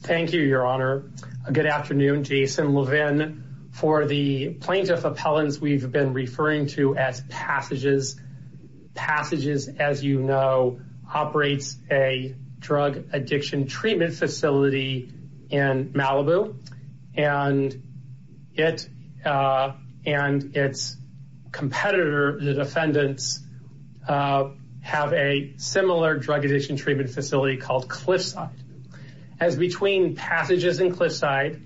Thank you, Your Honor. Good afternoon, Jason Levin. For the plaintiff appellants, we've been referring to as passages. Passages, as you know, operates a drug addiction treatment facility in Malibu, and it and its competitor, the defendants, have a similar drug addiction treatment facility called Cliffside. As between passages and Cliffside,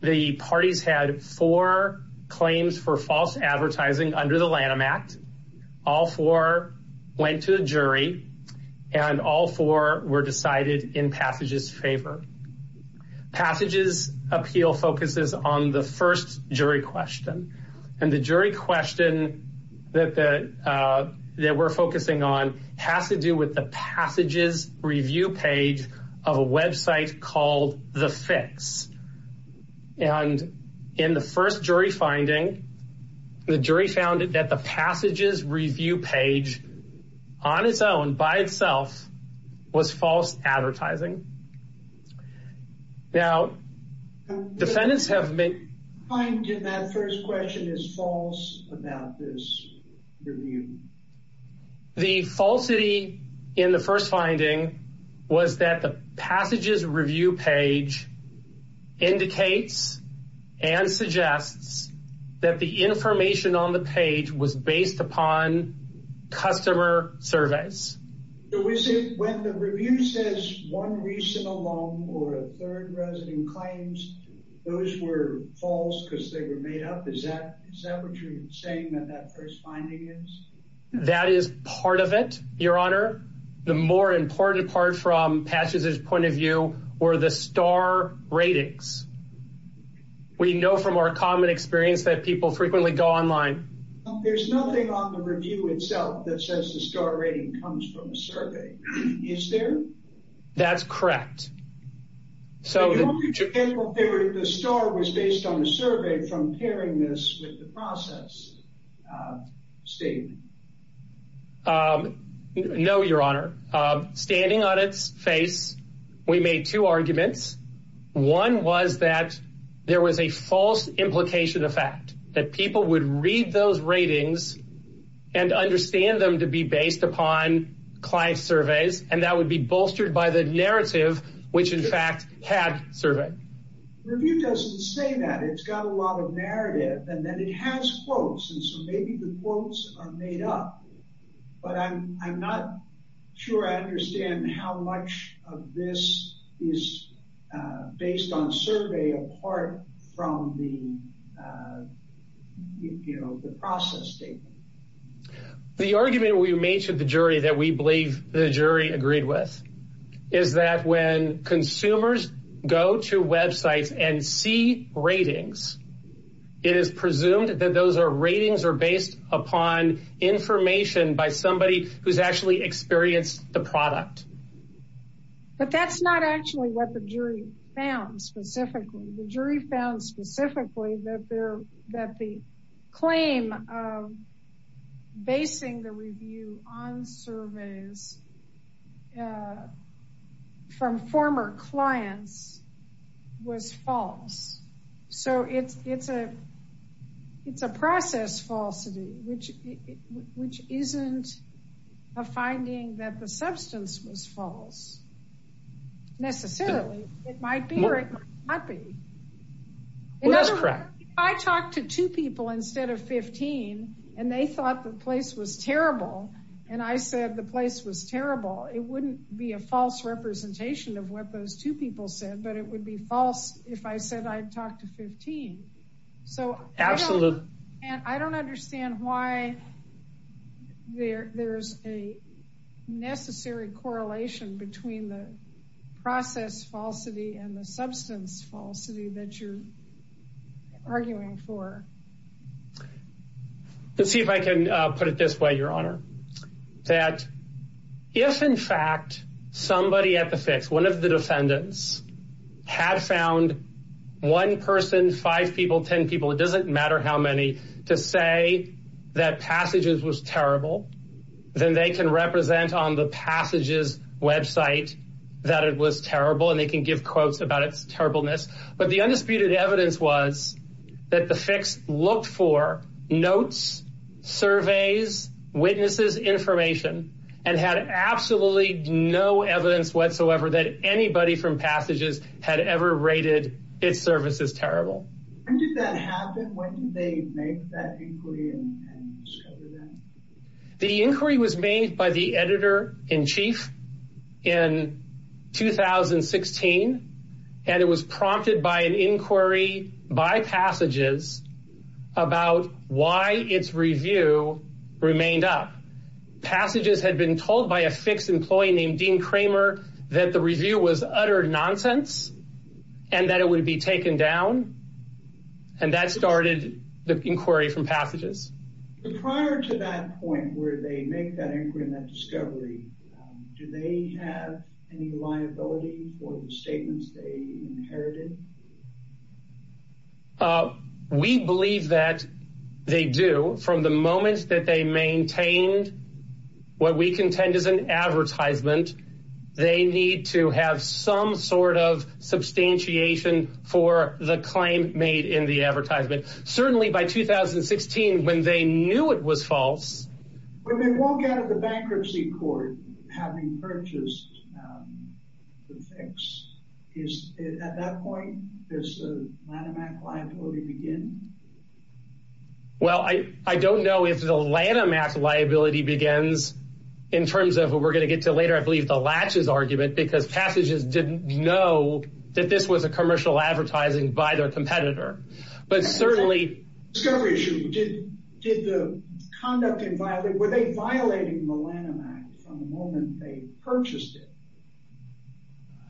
the parties had four claims for false advertising under the Lanham Act. All four went to the jury, and all four were decided in passages favor. Passages appeal focuses on the first jury question, and the jury question that we're focusing on has to do with the passages review page. Of a website called The Fix. And in the first jury finding, the jury found that the passages review page on its own by itself was false advertising. Now, defendants have made. I did that first question is false about this review. The falsity in the first finding was that the passages review page indicates and suggests that the information on the page was based upon customer surveys. When the review says one reason alone or a third resident claims those were false because they were made up. Is that separate? You're saying that that first finding is that is part of it. Your Honor. The more important part from passages point of view or the star ratings. We know from our common experience that people frequently go online. There's nothing on the review itself that says the star rating comes from a survey. Is there? That's correct. So the star was based on the survey from pairing this with the process state. No, Your Honor. Standing on its face. We made two arguments. One was that there was a false implication of fact that people would read those ratings and understand them to be based upon client surveys. And that would be bolstered by the narrative, which, in fact, had survey review doesn't say that it's got a lot of narrative and then it has quotes. And so maybe the quotes are made up, but I'm not sure I understand how much of this is based on survey apart from the, you know, the process state. The argument we made to the jury that we believe the jury agreed with is that when consumers go to websites and see ratings, it is presumed that those are ratings are based upon information by somebody who's actually experienced the product. But that's not actually what the jury found specifically. The jury found specifically that there that the claim of basing the review on surveys from former clients was false. So it's it's a it's a process falsity, which which isn't a finding that the substance was false. Absolutely. And I don't understand why there there's a necessary correlation between the two. The process falsity and the substance falsity that you're arguing for. Let's see if I can put it this way, Your Honor, that if, in fact, somebody at the fix, one of the defendants had found one person, five people, 10 people, it doesn't matter how many to say that passages was terrible. Then they can represent on the passages website that it was terrible and they can give quotes about its terribleness. But the undisputed evidence was that the fix looked for notes, surveys, witnesses, information and had absolutely no evidence whatsoever that anybody from passages had ever rated its services terrible. When did that happen? When did they make that inquiry and discover that? The inquiry was made by the editor in chief in 2016, and it was prompted by an inquiry by passages about why its review remained up. Passages had been told by a fixed employee named Dean Kramer that the review was utter nonsense and that it would be taken down. And that started the inquiry from passages prior to that point where they make that inquiry and that discovery. Do they have any liability for the statements they inherited? We believe that they do. From the moment that they maintained what we contend is an advertisement, they need to have some sort of substantiation for the claim made in the advertisement. Certainly by 2016 when they knew it was false. When they walk out of the bankruptcy court having purchased the fix, at that point does the Lanham Act liability begin? Well, I don't know if the Lanham Act liability begins in terms of what we're going to get to later. I believe the latches argument because passages didn't know that this was a commercial advertising by their competitor. But certainly, did the conduct inviolate, were they violating the Lanham Act from the moment they purchased it?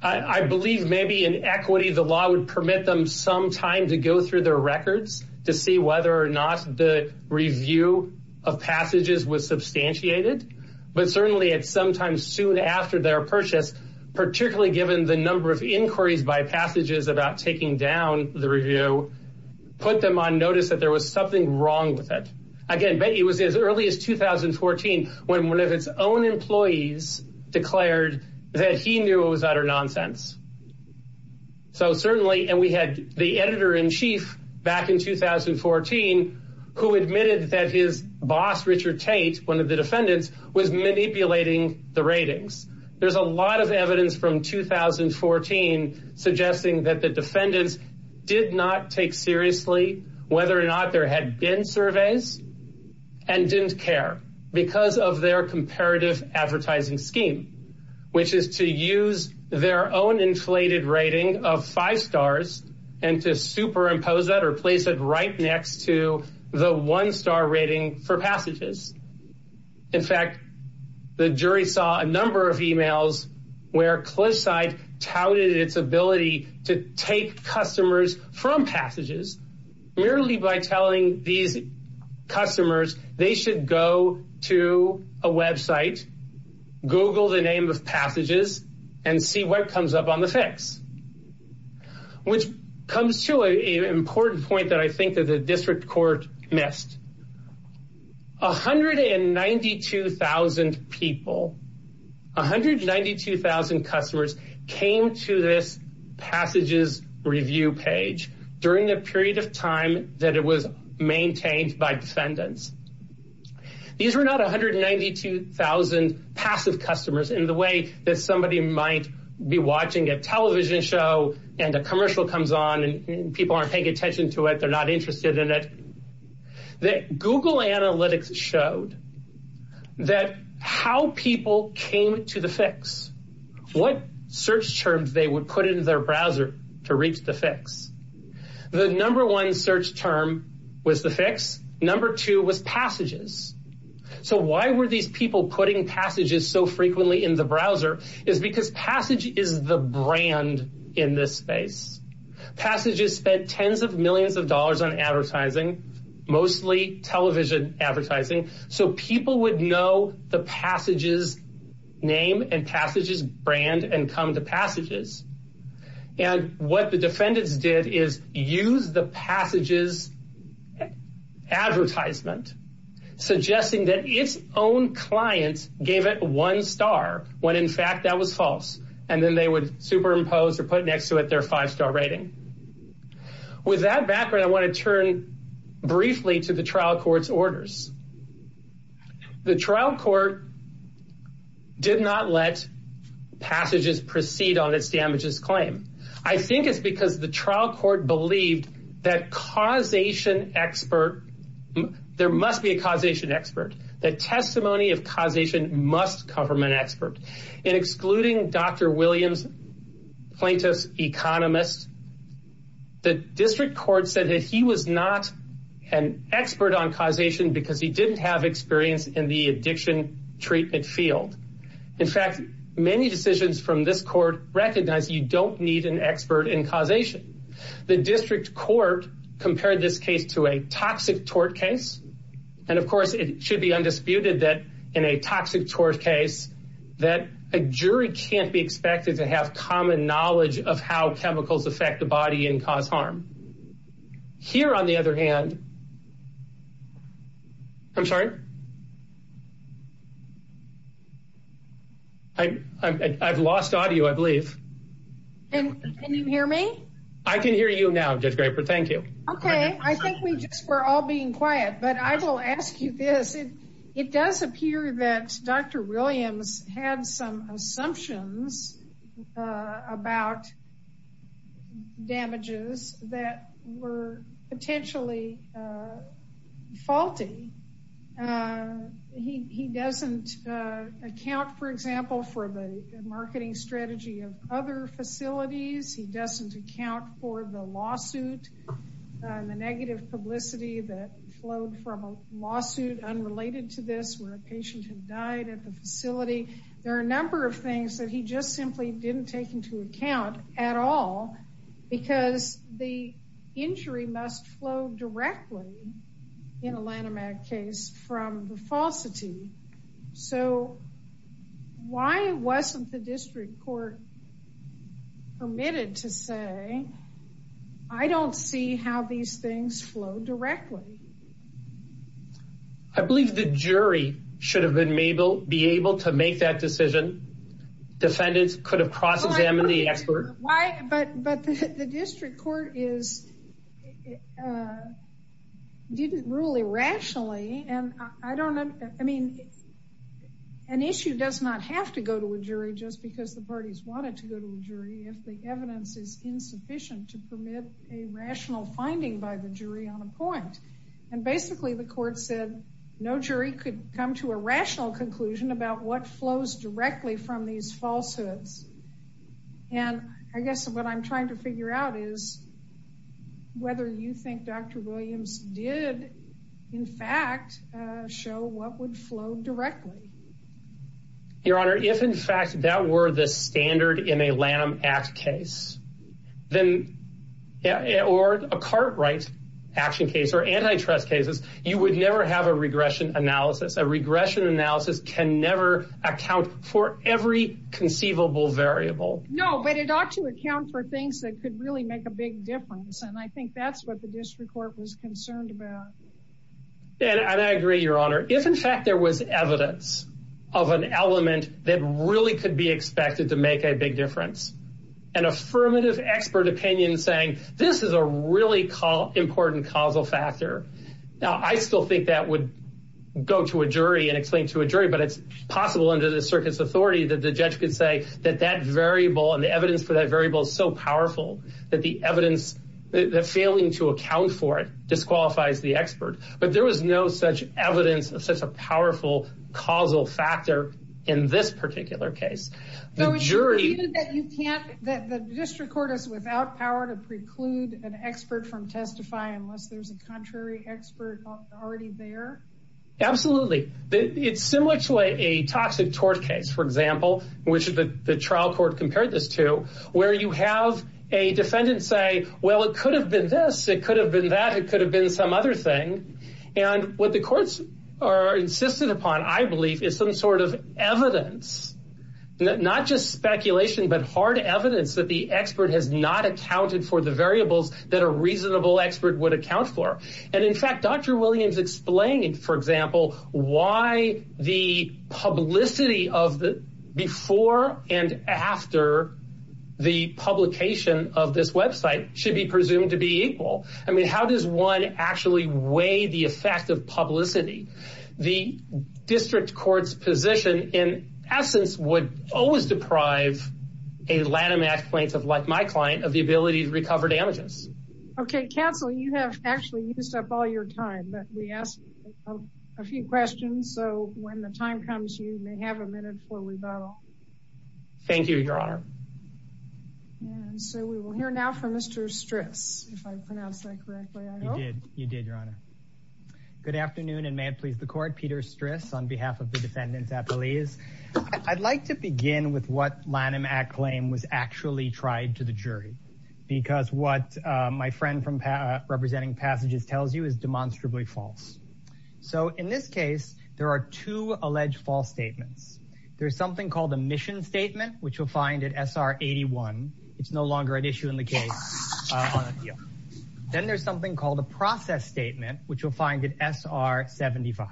I believe maybe in equity the law would permit them some time to go through their records to see whether or not the review of passages was substantiated. But certainly at some time soon after their purchase, particularly given the number of inquiries by passages about taking down the review, put them on notice that there was something wrong with it. Again, it was as early as 2014 when one of its own employees declared that he knew it was utter nonsense. So certainly, and we had the editor-in-chief back in 2014 who admitted that his boss Richard Tate, one of the defendants, was manipulating the ratings. There's a lot of evidence from 2014 suggesting that the defendants did not take seriously whether or not there had been surveys and didn't care because of their comparative advertising scheme. Which is to use their own inflated rating of five stars and to superimpose that or place it right next to the one-star rating for passages. In fact, the jury saw a number of emails where Cliffside touted its ability to take customers from passages merely by telling these customers they should go to a website, Google the name of passages, and see what comes up on the fix. Which comes to an important point that I think the district court missed. 192,000 people, 192,000 customers came to this passages review page during the period of time that it was maintained by defendants. These were not 192,000 passive customers in the way that somebody might be watching a television show and a commercial comes on and people aren't paying attention to it, they're not interested in it. Google analytics showed that how people came to the fix, what search terms they would put into their browser to reach the fix. The number one search term was the fix, number two was passages. So why were these people putting passages so frequently in the browser is because passage is the brand in this space. Passages spent tens of millions of dollars on advertising, mostly television advertising, so people would know the passages name and passages brand and come to passages. And what the defendants did is use the passages advertisement, suggesting that its own clients gave it one star, when in fact that was false. And then they would superimpose or put next to it their five star rating. With that background, I want to turn briefly to the trial courts orders. The trial court did not let passages proceed on its damages claim. I think it's because the trial court believed that causation expert, there must be a causation expert, that testimony of causation must come from an expert. In excluding Dr. Williams, plaintiff's economist, the district court said that he was not an expert on causation because he didn't have experience in the addiction treatment field. In fact, many decisions from this court recognize you don't need an expert in causation. The district court compared this case to a toxic tort case. And of course, it should be undisputed that in a toxic tort case, that a jury can't be expected to have common knowledge of how chemicals affect the body and cause harm. Here, on the other hand, I'm sorry, I've lost audio, I believe. Can you hear me? I can hear you now, Judge Graper, thank you. Okay, I think we just were all being quiet, but I will ask you this. It does appear that Dr. Williams had some assumptions about damages that were potentially faulty. He doesn't account, for example, for the marketing strategy of other facilities. He doesn't account for the lawsuit and the negative publicity that flowed from a lawsuit unrelated to this where a patient had died at the facility. There are a number of things that he just simply didn't take into account at all, because the injury must flow directly in a Lanham Act case from the falsity. So why wasn't the district court permitted to say, I don't see how these things flow directly? I believe the jury should have been able to make that decision. Defendants could have cross-examined the expert. But the district court didn't rule irrationally. An issue does not have to go to a jury just because the parties want it to go to a jury if the evidence is insufficient to permit a rational finding by the jury on a point. And basically the court said no jury could come to a rational conclusion about what flows directly from these falsehoods. And I guess what I'm trying to figure out is whether you think Dr. Williams did in fact show what would flow directly. Your Honor, if in fact that were the standard in a Lanham Act case, then or a Cartwright action case or antitrust cases, you would never have a regression analysis. A regression analysis can never account for every conceivable variable. No, but it ought to account for things that could really make a big difference. And I think that's what the district court was concerned about. And I agree, Your Honor, if in fact there was evidence of an element that really could be expected to make a big difference, an affirmative expert opinion saying this is a really important causal factor. Now, I still think that would go to a jury and explain to a jury, but it's possible under the circuit's authority that the judge could say that that variable and the evidence for that variable is so powerful that the evidence that failing to account for it disqualifies the expert. But there was no such evidence of such a powerful causal factor in this particular case. The jury that you can't that the district court is without power to preclude an expert from testify unless there's a contrary expert already there. Absolutely. It's similar to a toxic tort case, for example, which the trial court compared this to where you have a defendant say, well, it could have been this. It could have been that it could have been some other thing. And what the courts are insisted upon, I believe, is some sort of evidence, not just speculation, but hard evidence that the expert has not accounted for the variables that a reasonable expert would account for. And in fact, Dr. Williams explained, for example, why the publicity of the before and after the publication of this website should be presumed to be equal. I mean, how does one actually weigh the effect of publicity? The district court's position in essence would always deprive a Lattimax plaintiff like my client of the ability to recover damages. OK, counsel, you have actually used up all your time, but we asked a few questions. So when the time comes, you may have a minute for rebuttal. Thank you, Your Honor. And so we will hear now from Mr. Stris, if I pronounced that correctly. You did. You did, Your Honor. Good afternoon and may it please the court. Peter Stris on behalf of the defendants at police. I'd like to begin with what Lattimax claim was actually tried to the jury because what my friend from representing passages tells you is demonstrably false. So in this case, there are two alleged false statements. There is something called a mission statement, which you'll find at S.R. 81. It's no longer an issue in the case. Then there's something called a process statement, which you'll find at S.R. 75.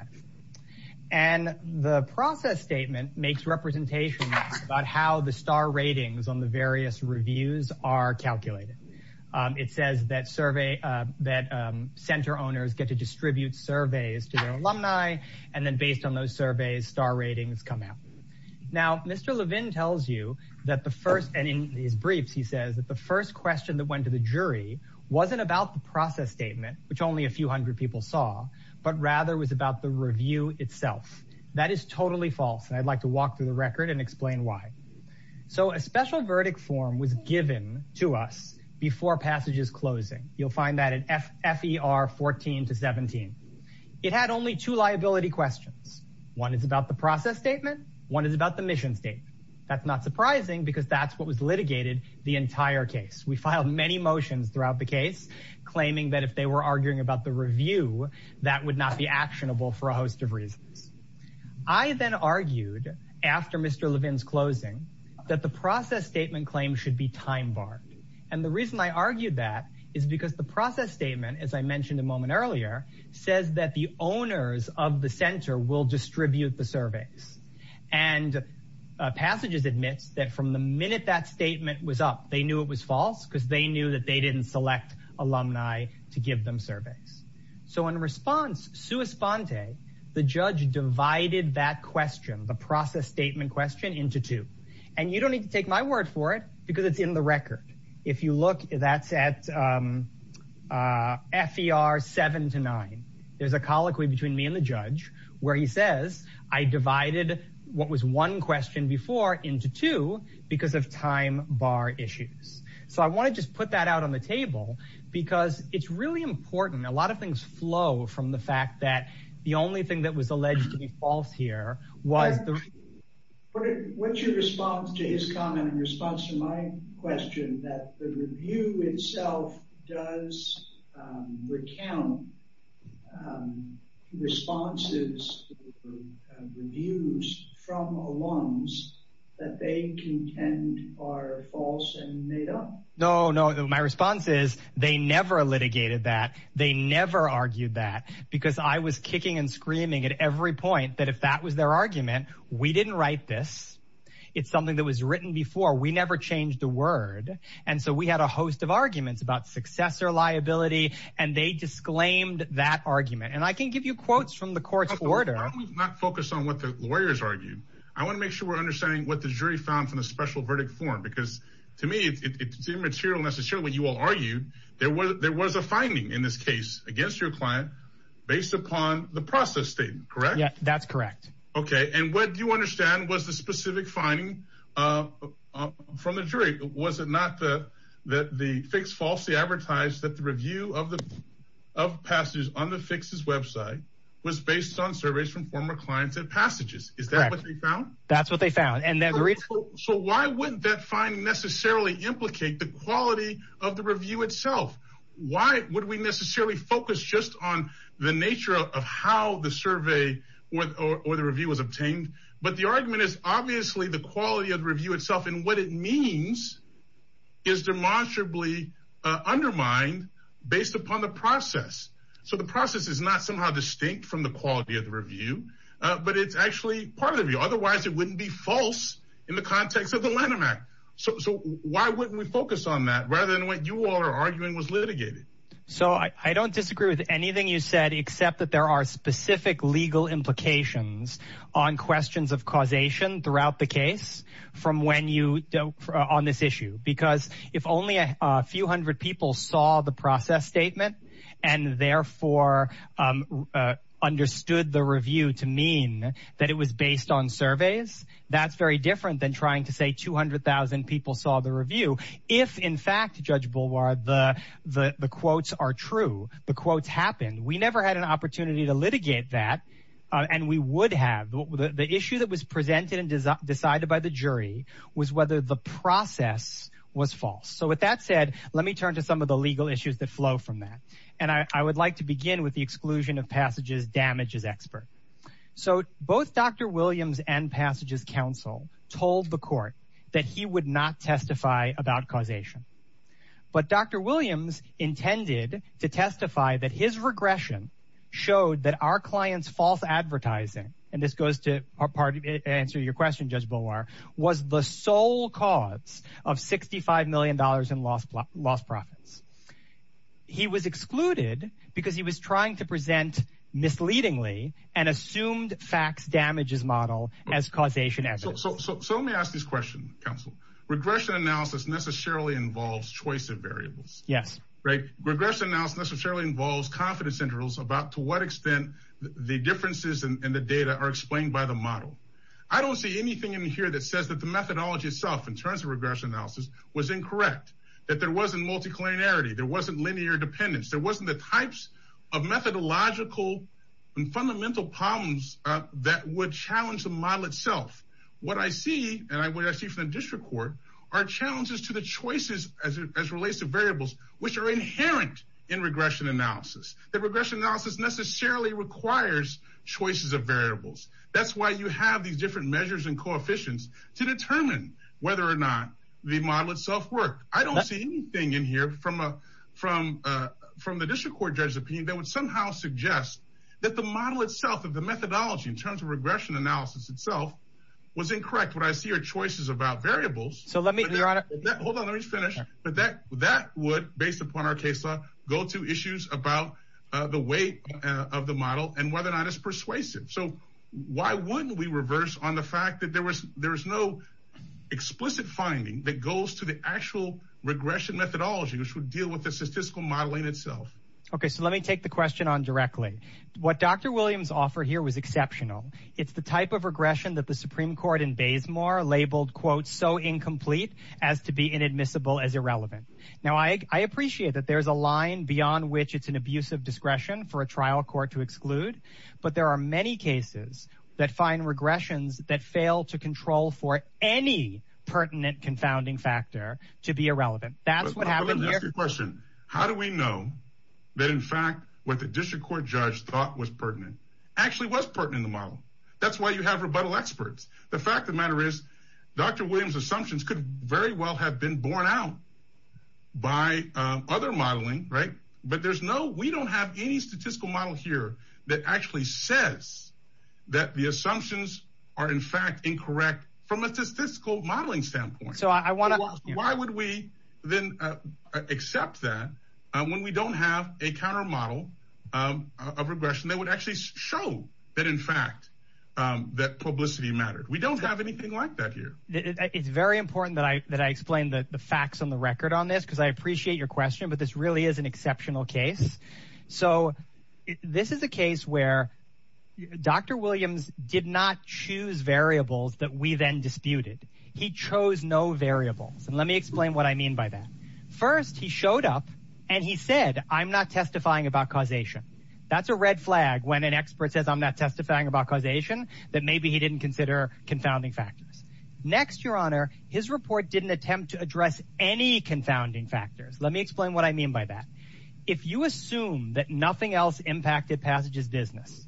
And the process statement makes representation about how the star ratings on the various reviews are calculated. It says that survey that center owners get to distribute surveys to their alumni. And then based on those surveys, star ratings come out. Now, Mr. Levin tells you that the first and in his briefs, he says that the first question that went to the jury wasn't about the process statement, which only a few hundred people saw, but rather was about the review itself. That is totally false. And I'd like to walk through the record and explain why. So a special verdict form was given to us before passages closing. You'll find that at F.R. 14 to 17. It had only two liability questions. One is about the process statement. One is about the mission statement. That's not surprising because that's what was litigated the entire case. We filed many motions throughout the case, claiming that if they were arguing about the review, that would not be actionable for a host of reasons. I then argued after Mr. Levin's closing that the process statement claim should be time barred. And the reason I argued that is because the process statement, as I mentioned a moment earlier, says that the owners of the center will distribute the surveys. And passages admits that from the minute that statement was up, they knew it was false because they knew that they didn't select alumni to give them surveys. So in response, sua sponte, the judge divided that question, the process statement question, into two. And you don't need to take my word for it because it's in the record. If you look, that's at F.E.R. 7 to 9. There's a colloquy between me and the judge where he says I divided what was one question before into two because of time bar issues. So I want to just put that out on the table because it's really important. A lot of things flow from the fact that the only thing that was alleged to be false here was the. What's your response to his comment in response to my question that the review itself does recount responses reviews from alums that they contend are false and made up? No, no. My response is they never litigated that. They never argued that because I was kicking and screaming at every point that if that was their argument, we didn't write this. It's something that was written before. We never changed a word. And so we had a host of arguments about successor liability, and they disclaimed that argument. And I can give you quotes from the court's order. Not focus on what the lawyers argued. I want to make sure we're understanding what the jury found from the special verdict form. Because to me, it's immaterial, necessarily. You will argue there was there was a finding in this case against your client based upon the process statement, correct? Yeah, that's correct. OK, and what do you understand was the specific finding from the jury? Was it not that the fix falsely advertised that the review of the of passages on the fixes website was based on surveys from former clients and passages? Is that what they found? That's what they found. So why wouldn't that find necessarily implicate the quality of the review itself? Why would we necessarily focus just on the nature of how the survey or the review was obtained? But the argument is obviously the quality of the review itself and what it means is demonstrably undermined based upon the process. So the process is not somehow distinct from the quality of the review, but it's actually part of you. Otherwise, it wouldn't be false in the context of the landmark. So why wouldn't we focus on that rather than what you are arguing was litigated? So I don't disagree with anything you said, except that there are specific legal implications on questions of causation throughout the case. From when you on this issue, because if only a few hundred people saw the process statement and therefore understood the review to mean that it was based on surveys, that's very different than trying to say 200000 people saw the review. If in fact, Judge Boulevard, the quotes are true, the quotes happened. We never had an opportunity to litigate that. And we would have the issue that was presented and decided by the jury was whether the process was false. So with that said, let me turn to some of the legal issues that flow from that. And I would like to begin with the exclusion of passages. Damage is expert. So both Dr. Williams and passages council told the court that he would not testify about causation. But Dr. Williams intended to testify that his regression showed that our clients false advertising. And this goes to our party. Answer your question. Was the sole cause of sixty five million dollars in lost lost profits. He was excluded because he was trying to present misleadingly and assumed facts damages model as causation. So let me ask this question. Council regression analysis necessarily involves choice of variables. Yes. Right. Regression now necessarily involves confidence intervals about to what extent the differences in the data are explained by the model. I don't see anything in here that says that the methodology itself in terms of regression analysis was incorrect. That there wasn't multicollinearity. There wasn't linear dependence. There wasn't the types of methodological and fundamental problems that would challenge the model itself. What I see and I see from the district court are challenges to the choices as it relates to variables which are inherent in regression analysis. The regression analysis necessarily requires choices of variables. That's why you have these different measures and coefficients to determine whether or not the model itself work. I don't see anything in here from a from a from the district court judge's opinion that would somehow suggest that the model itself of the methodology in terms of regression analysis itself was incorrect. What I see are choices about variables. So let me finish. But that that would based upon our case law go to issues about the weight of the model and whether or not it's persuasive. So why wouldn't we reverse on the fact that there was there is no explicit finding that goes to the actual regression methodology which would deal with the statistical modeling itself. Okay, so let me take the question on directly. What Dr. Williams offered here was exceptional. It's the type of regression that the Supreme Court in Baysmore labeled quote so incomplete as to be inadmissible as irrelevant. Now I appreciate that there's a line beyond which it's an abuse of discretion for a trial court to exclude. But there are many cases that find regressions that fail to control for any pertinent confounding factor to be irrelevant. That's what happened here. Question. How do we know that in fact what the district court judge thought was pertinent actually was pertinent in the model. That's why you have rebuttal experts. The fact of the matter is Dr. Williams assumptions could very well have been borne out by other modeling. Right. But there's no we don't have any statistical model here that actually says that the assumptions are in fact incorrect from a statistical modeling standpoint. So I want to know why would we then accept that when we don't have a counter model of regression that would actually show that in fact that publicity mattered. We don't have anything like that here. It's very important that I that I explain the facts on the record on this because I appreciate your question. But this really is an exceptional case. So this is a case where Dr. Williams did not choose variables that we then disputed. He chose no variables. And let me explain what I mean by that. First he showed up and he said I'm not testifying about causation. That's a red flag when an expert says I'm not testifying about causation that maybe he didn't consider confounding factors. Next your honor his report didn't attempt to address any confounding factors. Let me explain what I mean by that. If you assume that nothing else impacted passages business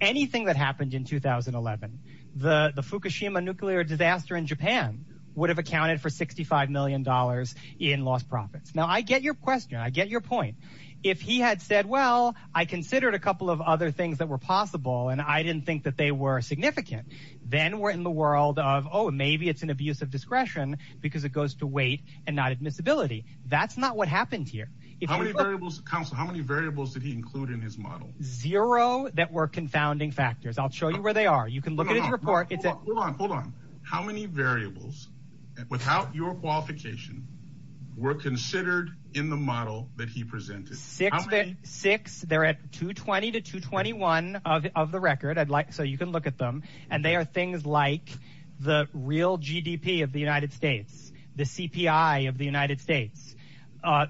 anything that happened in 2011 the Fukushima nuclear disaster in Japan would have accounted for 65 million dollars in lost profits. Now I get your question. I get your point. If he had said well I considered a couple of other things that were possible and I didn't think that they were significant. Then we're in the world of oh maybe it's an abuse of discretion because it goes to weight and not admissibility. That's not what happened here. How many variables how many variables did he include in his model? Zero that were confounding factors. I'll show you where they are. Hold on. How many variables without your qualification were considered in the model that he presented? Six. They're at 220 to 221 of the record. I'd like so you can look at them and they are things like the real GDP of the United States the CPI of the United States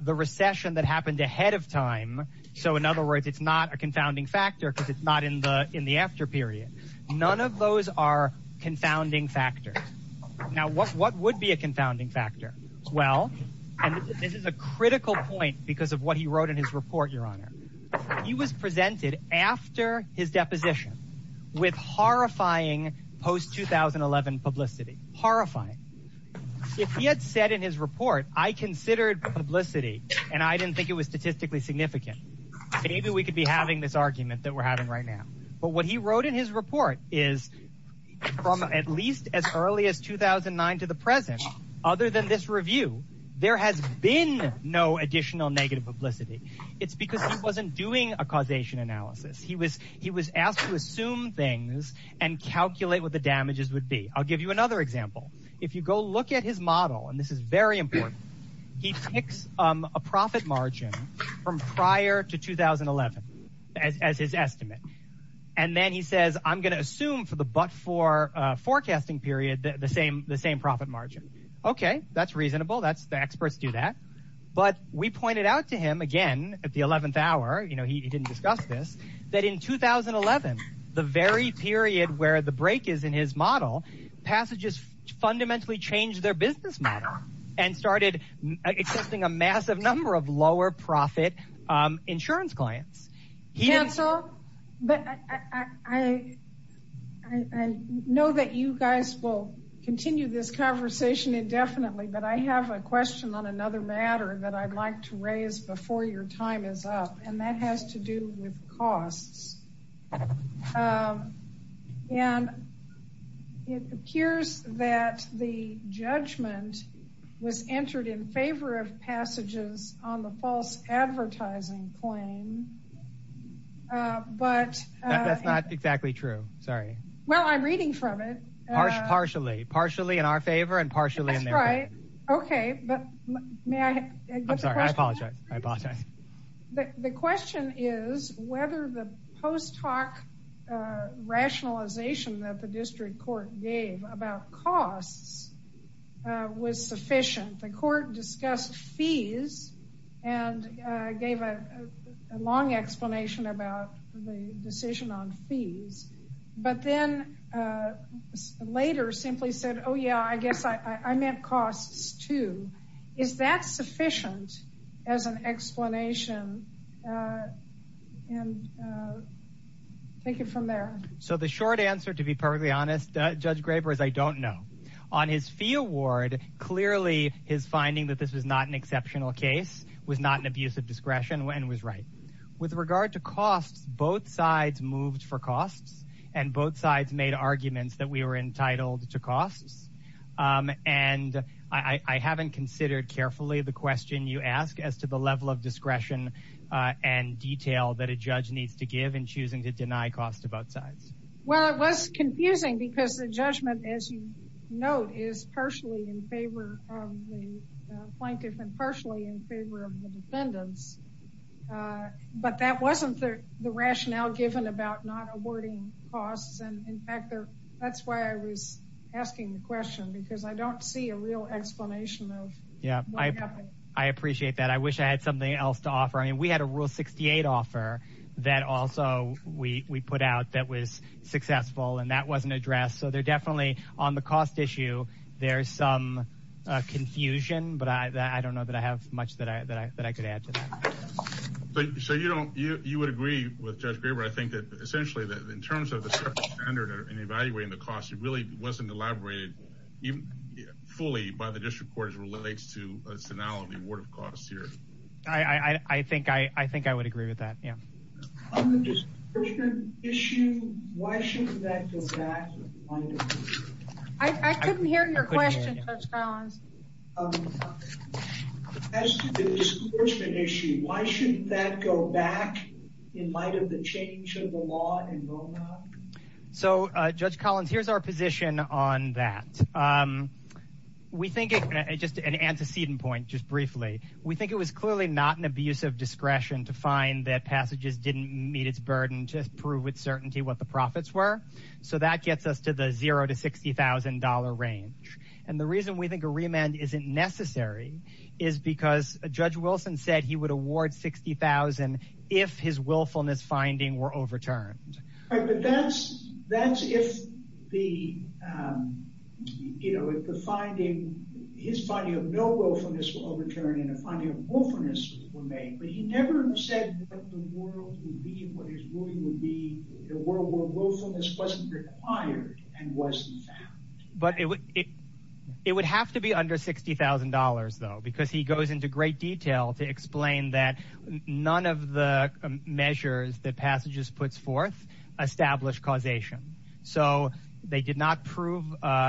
the recession that happened ahead of time. So in other words it's not a confounding factor because it's not in the in the after period. None of those are confounding factors. Now what what would be a confounding factor? Well and this is a critical point because of what he wrote in his report your honor. He was presented after his deposition with horrifying post 2011 publicity. Horrifying. If he had said in his report I considered publicity and I didn't think it was statistically significant. Maybe we could be having this argument that we're having right now. But what he wrote in his report is from at least as early as 2009 to the present. Other than this review there has been no additional negative publicity. It's because he wasn't doing a causation analysis. He was he was asked to assume things and calculate what the damages would be. I'll give you another example. If you go look at his model and this is very important. He picks a profit margin from prior to 2011 as his estimate. And then he says I'm going to assume for the but for forecasting period the same the same profit margin. Okay that's reasonable. That's the experts do that. But we pointed out to him again at the 11th hour. You know he didn't discuss this. That in 2011 the very period where the break is in his model passages fundamentally changed their business model. And started accepting a massive number of lower profit insurance clients. He and so. But I know that you guys will continue this conversation indefinitely. But I have a question on another matter that I'd like to raise before your time is up. And that has to do with costs. And it appears that the judgment was entered in favor of passages on the false advertising claim. But that's not exactly true. Sorry. Well I'm reading from it. Partially partially in our favor and partially. Right. Okay. But may I. I'm sorry I apologize. The question is whether the post hoc rationalization that the district court gave about costs was sufficient. The court discussed fees and gave a long explanation about the decision on fees. But then later simply said oh yeah I guess I meant costs too. Is that sufficient as an explanation. And. Thank you from there. So the short answer to be perfectly honest Judge Graber is I don't know. On his fee award. Clearly his finding that this is not an exceptional case was not an abuse of discretion and was right with regard to costs. Both sides moved for costs and both sides made arguments that we were entitled to costs. And I haven't considered carefully the question you ask as to the level of discretion and detail that a judge needs to give in choosing to deny costs to both sides. Well it was confusing because the judgment as you note is partially in favor of the plaintiff and partially in favor of the defendants. But that wasn't the rationale given about not awarding costs. That's why I was asking the question because I don't see a real explanation. Yeah. I appreciate that. I wish I had something else to offer. I mean we had a rule 68 offer that also we put out that was successful and that wasn't addressed. So they're definitely on the cost issue. There's some confusion but I don't know that I have much that I could add to that. So you would agree with Judge Graber I think that essentially in terms of the separate standard and evaluating the costs it really wasn't elaborated fully by the district court as it relates to a scenario of the award of costs here. I think I would agree with that. On the discouragement issue why shouldn't that go back to the plaintiff? I couldn't hear your question Judge Collins. As to the discouragement issue why shouldn't that go back in light of the change of the law in Roanoke? So Judge Collins here's our position on that. We think it's just an antecedent point just briefly. We think it was clearly not an abuse of discretion to find that passages didn't meet its burden to prove with certainty what the profits were. So that gets us to the zero to $60,000 range. And the reason we think a remand isn't necessary is because Judge Wilson said he would award $60,000 if his willfulness finding were overturned. But that's if his finding of no willfulness were overturned and a finding of willfulness were made. But he never said what the world would be and what his ruling would be in a world where willfulness wasn't required and wasn't found. But it would have to be under $60,000 though because he goes into great detail to explain that none of the measures that passages puts forth establish causation. So they did not prove an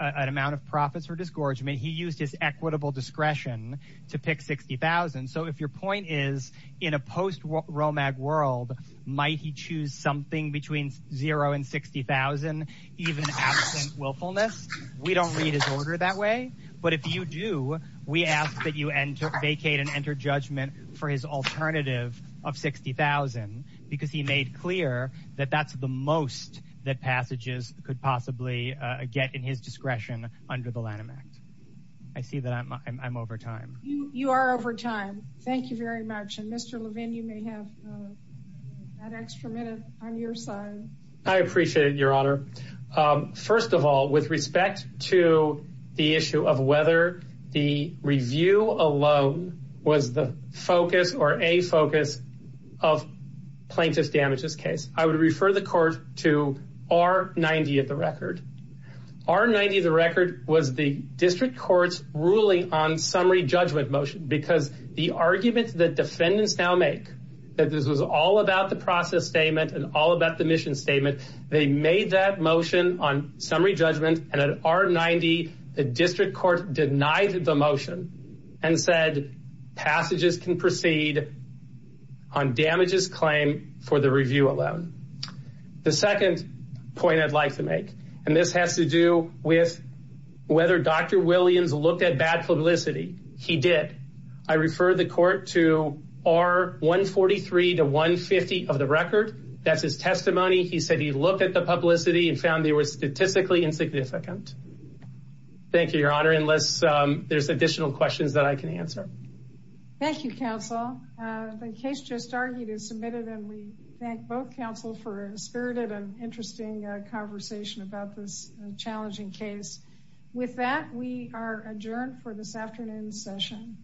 amount of profits or discouragement. He used his equitable discretion to pick $60,000. So if your point is in a post-Romag world, might he choose something between zero and $60,000 even absent willfulness? We don't read his order that way. But if you do, we ask that you vacate and enter judgment for his alternative of $60,000 because he made clear that that's the most that passages could possibly get in his discretion under the Lanham Act. I see that I'm over time. You are over time. Thank you very much. And Mr. Levin, you may have that extra minute on your side. I appreciate it, Your Honor. First of all, with respect to the issue of whether the review alone was the focus or a focus of plaintiff damages case, I would refer the court to R-90 of the record. R-90 of the record was the district court's ruling on summary judgment motion because the argument that defendants now make that this was all about the process statement and all about the mission statement, they made that motion on summary judgment. And at R-90, the district court denied the motion and said passages can proceed on damages claim for the review alone. The second point I'd like to make, and this has to do with whether Dr. Williams looked at bad publicity. He did. I refer the court to R-143 to 150 of the record. That's his testimony. He said he looked at the publicity and found they were statistically insignificant. Thank you, Your Honor. Unless there's additional questions that I can answer. Thank you, counsel. The case just argued is submitted and we thank both counsel for a spirited and interesting conversation about this challenging case. With that, we are adjourned for this afternoon's session.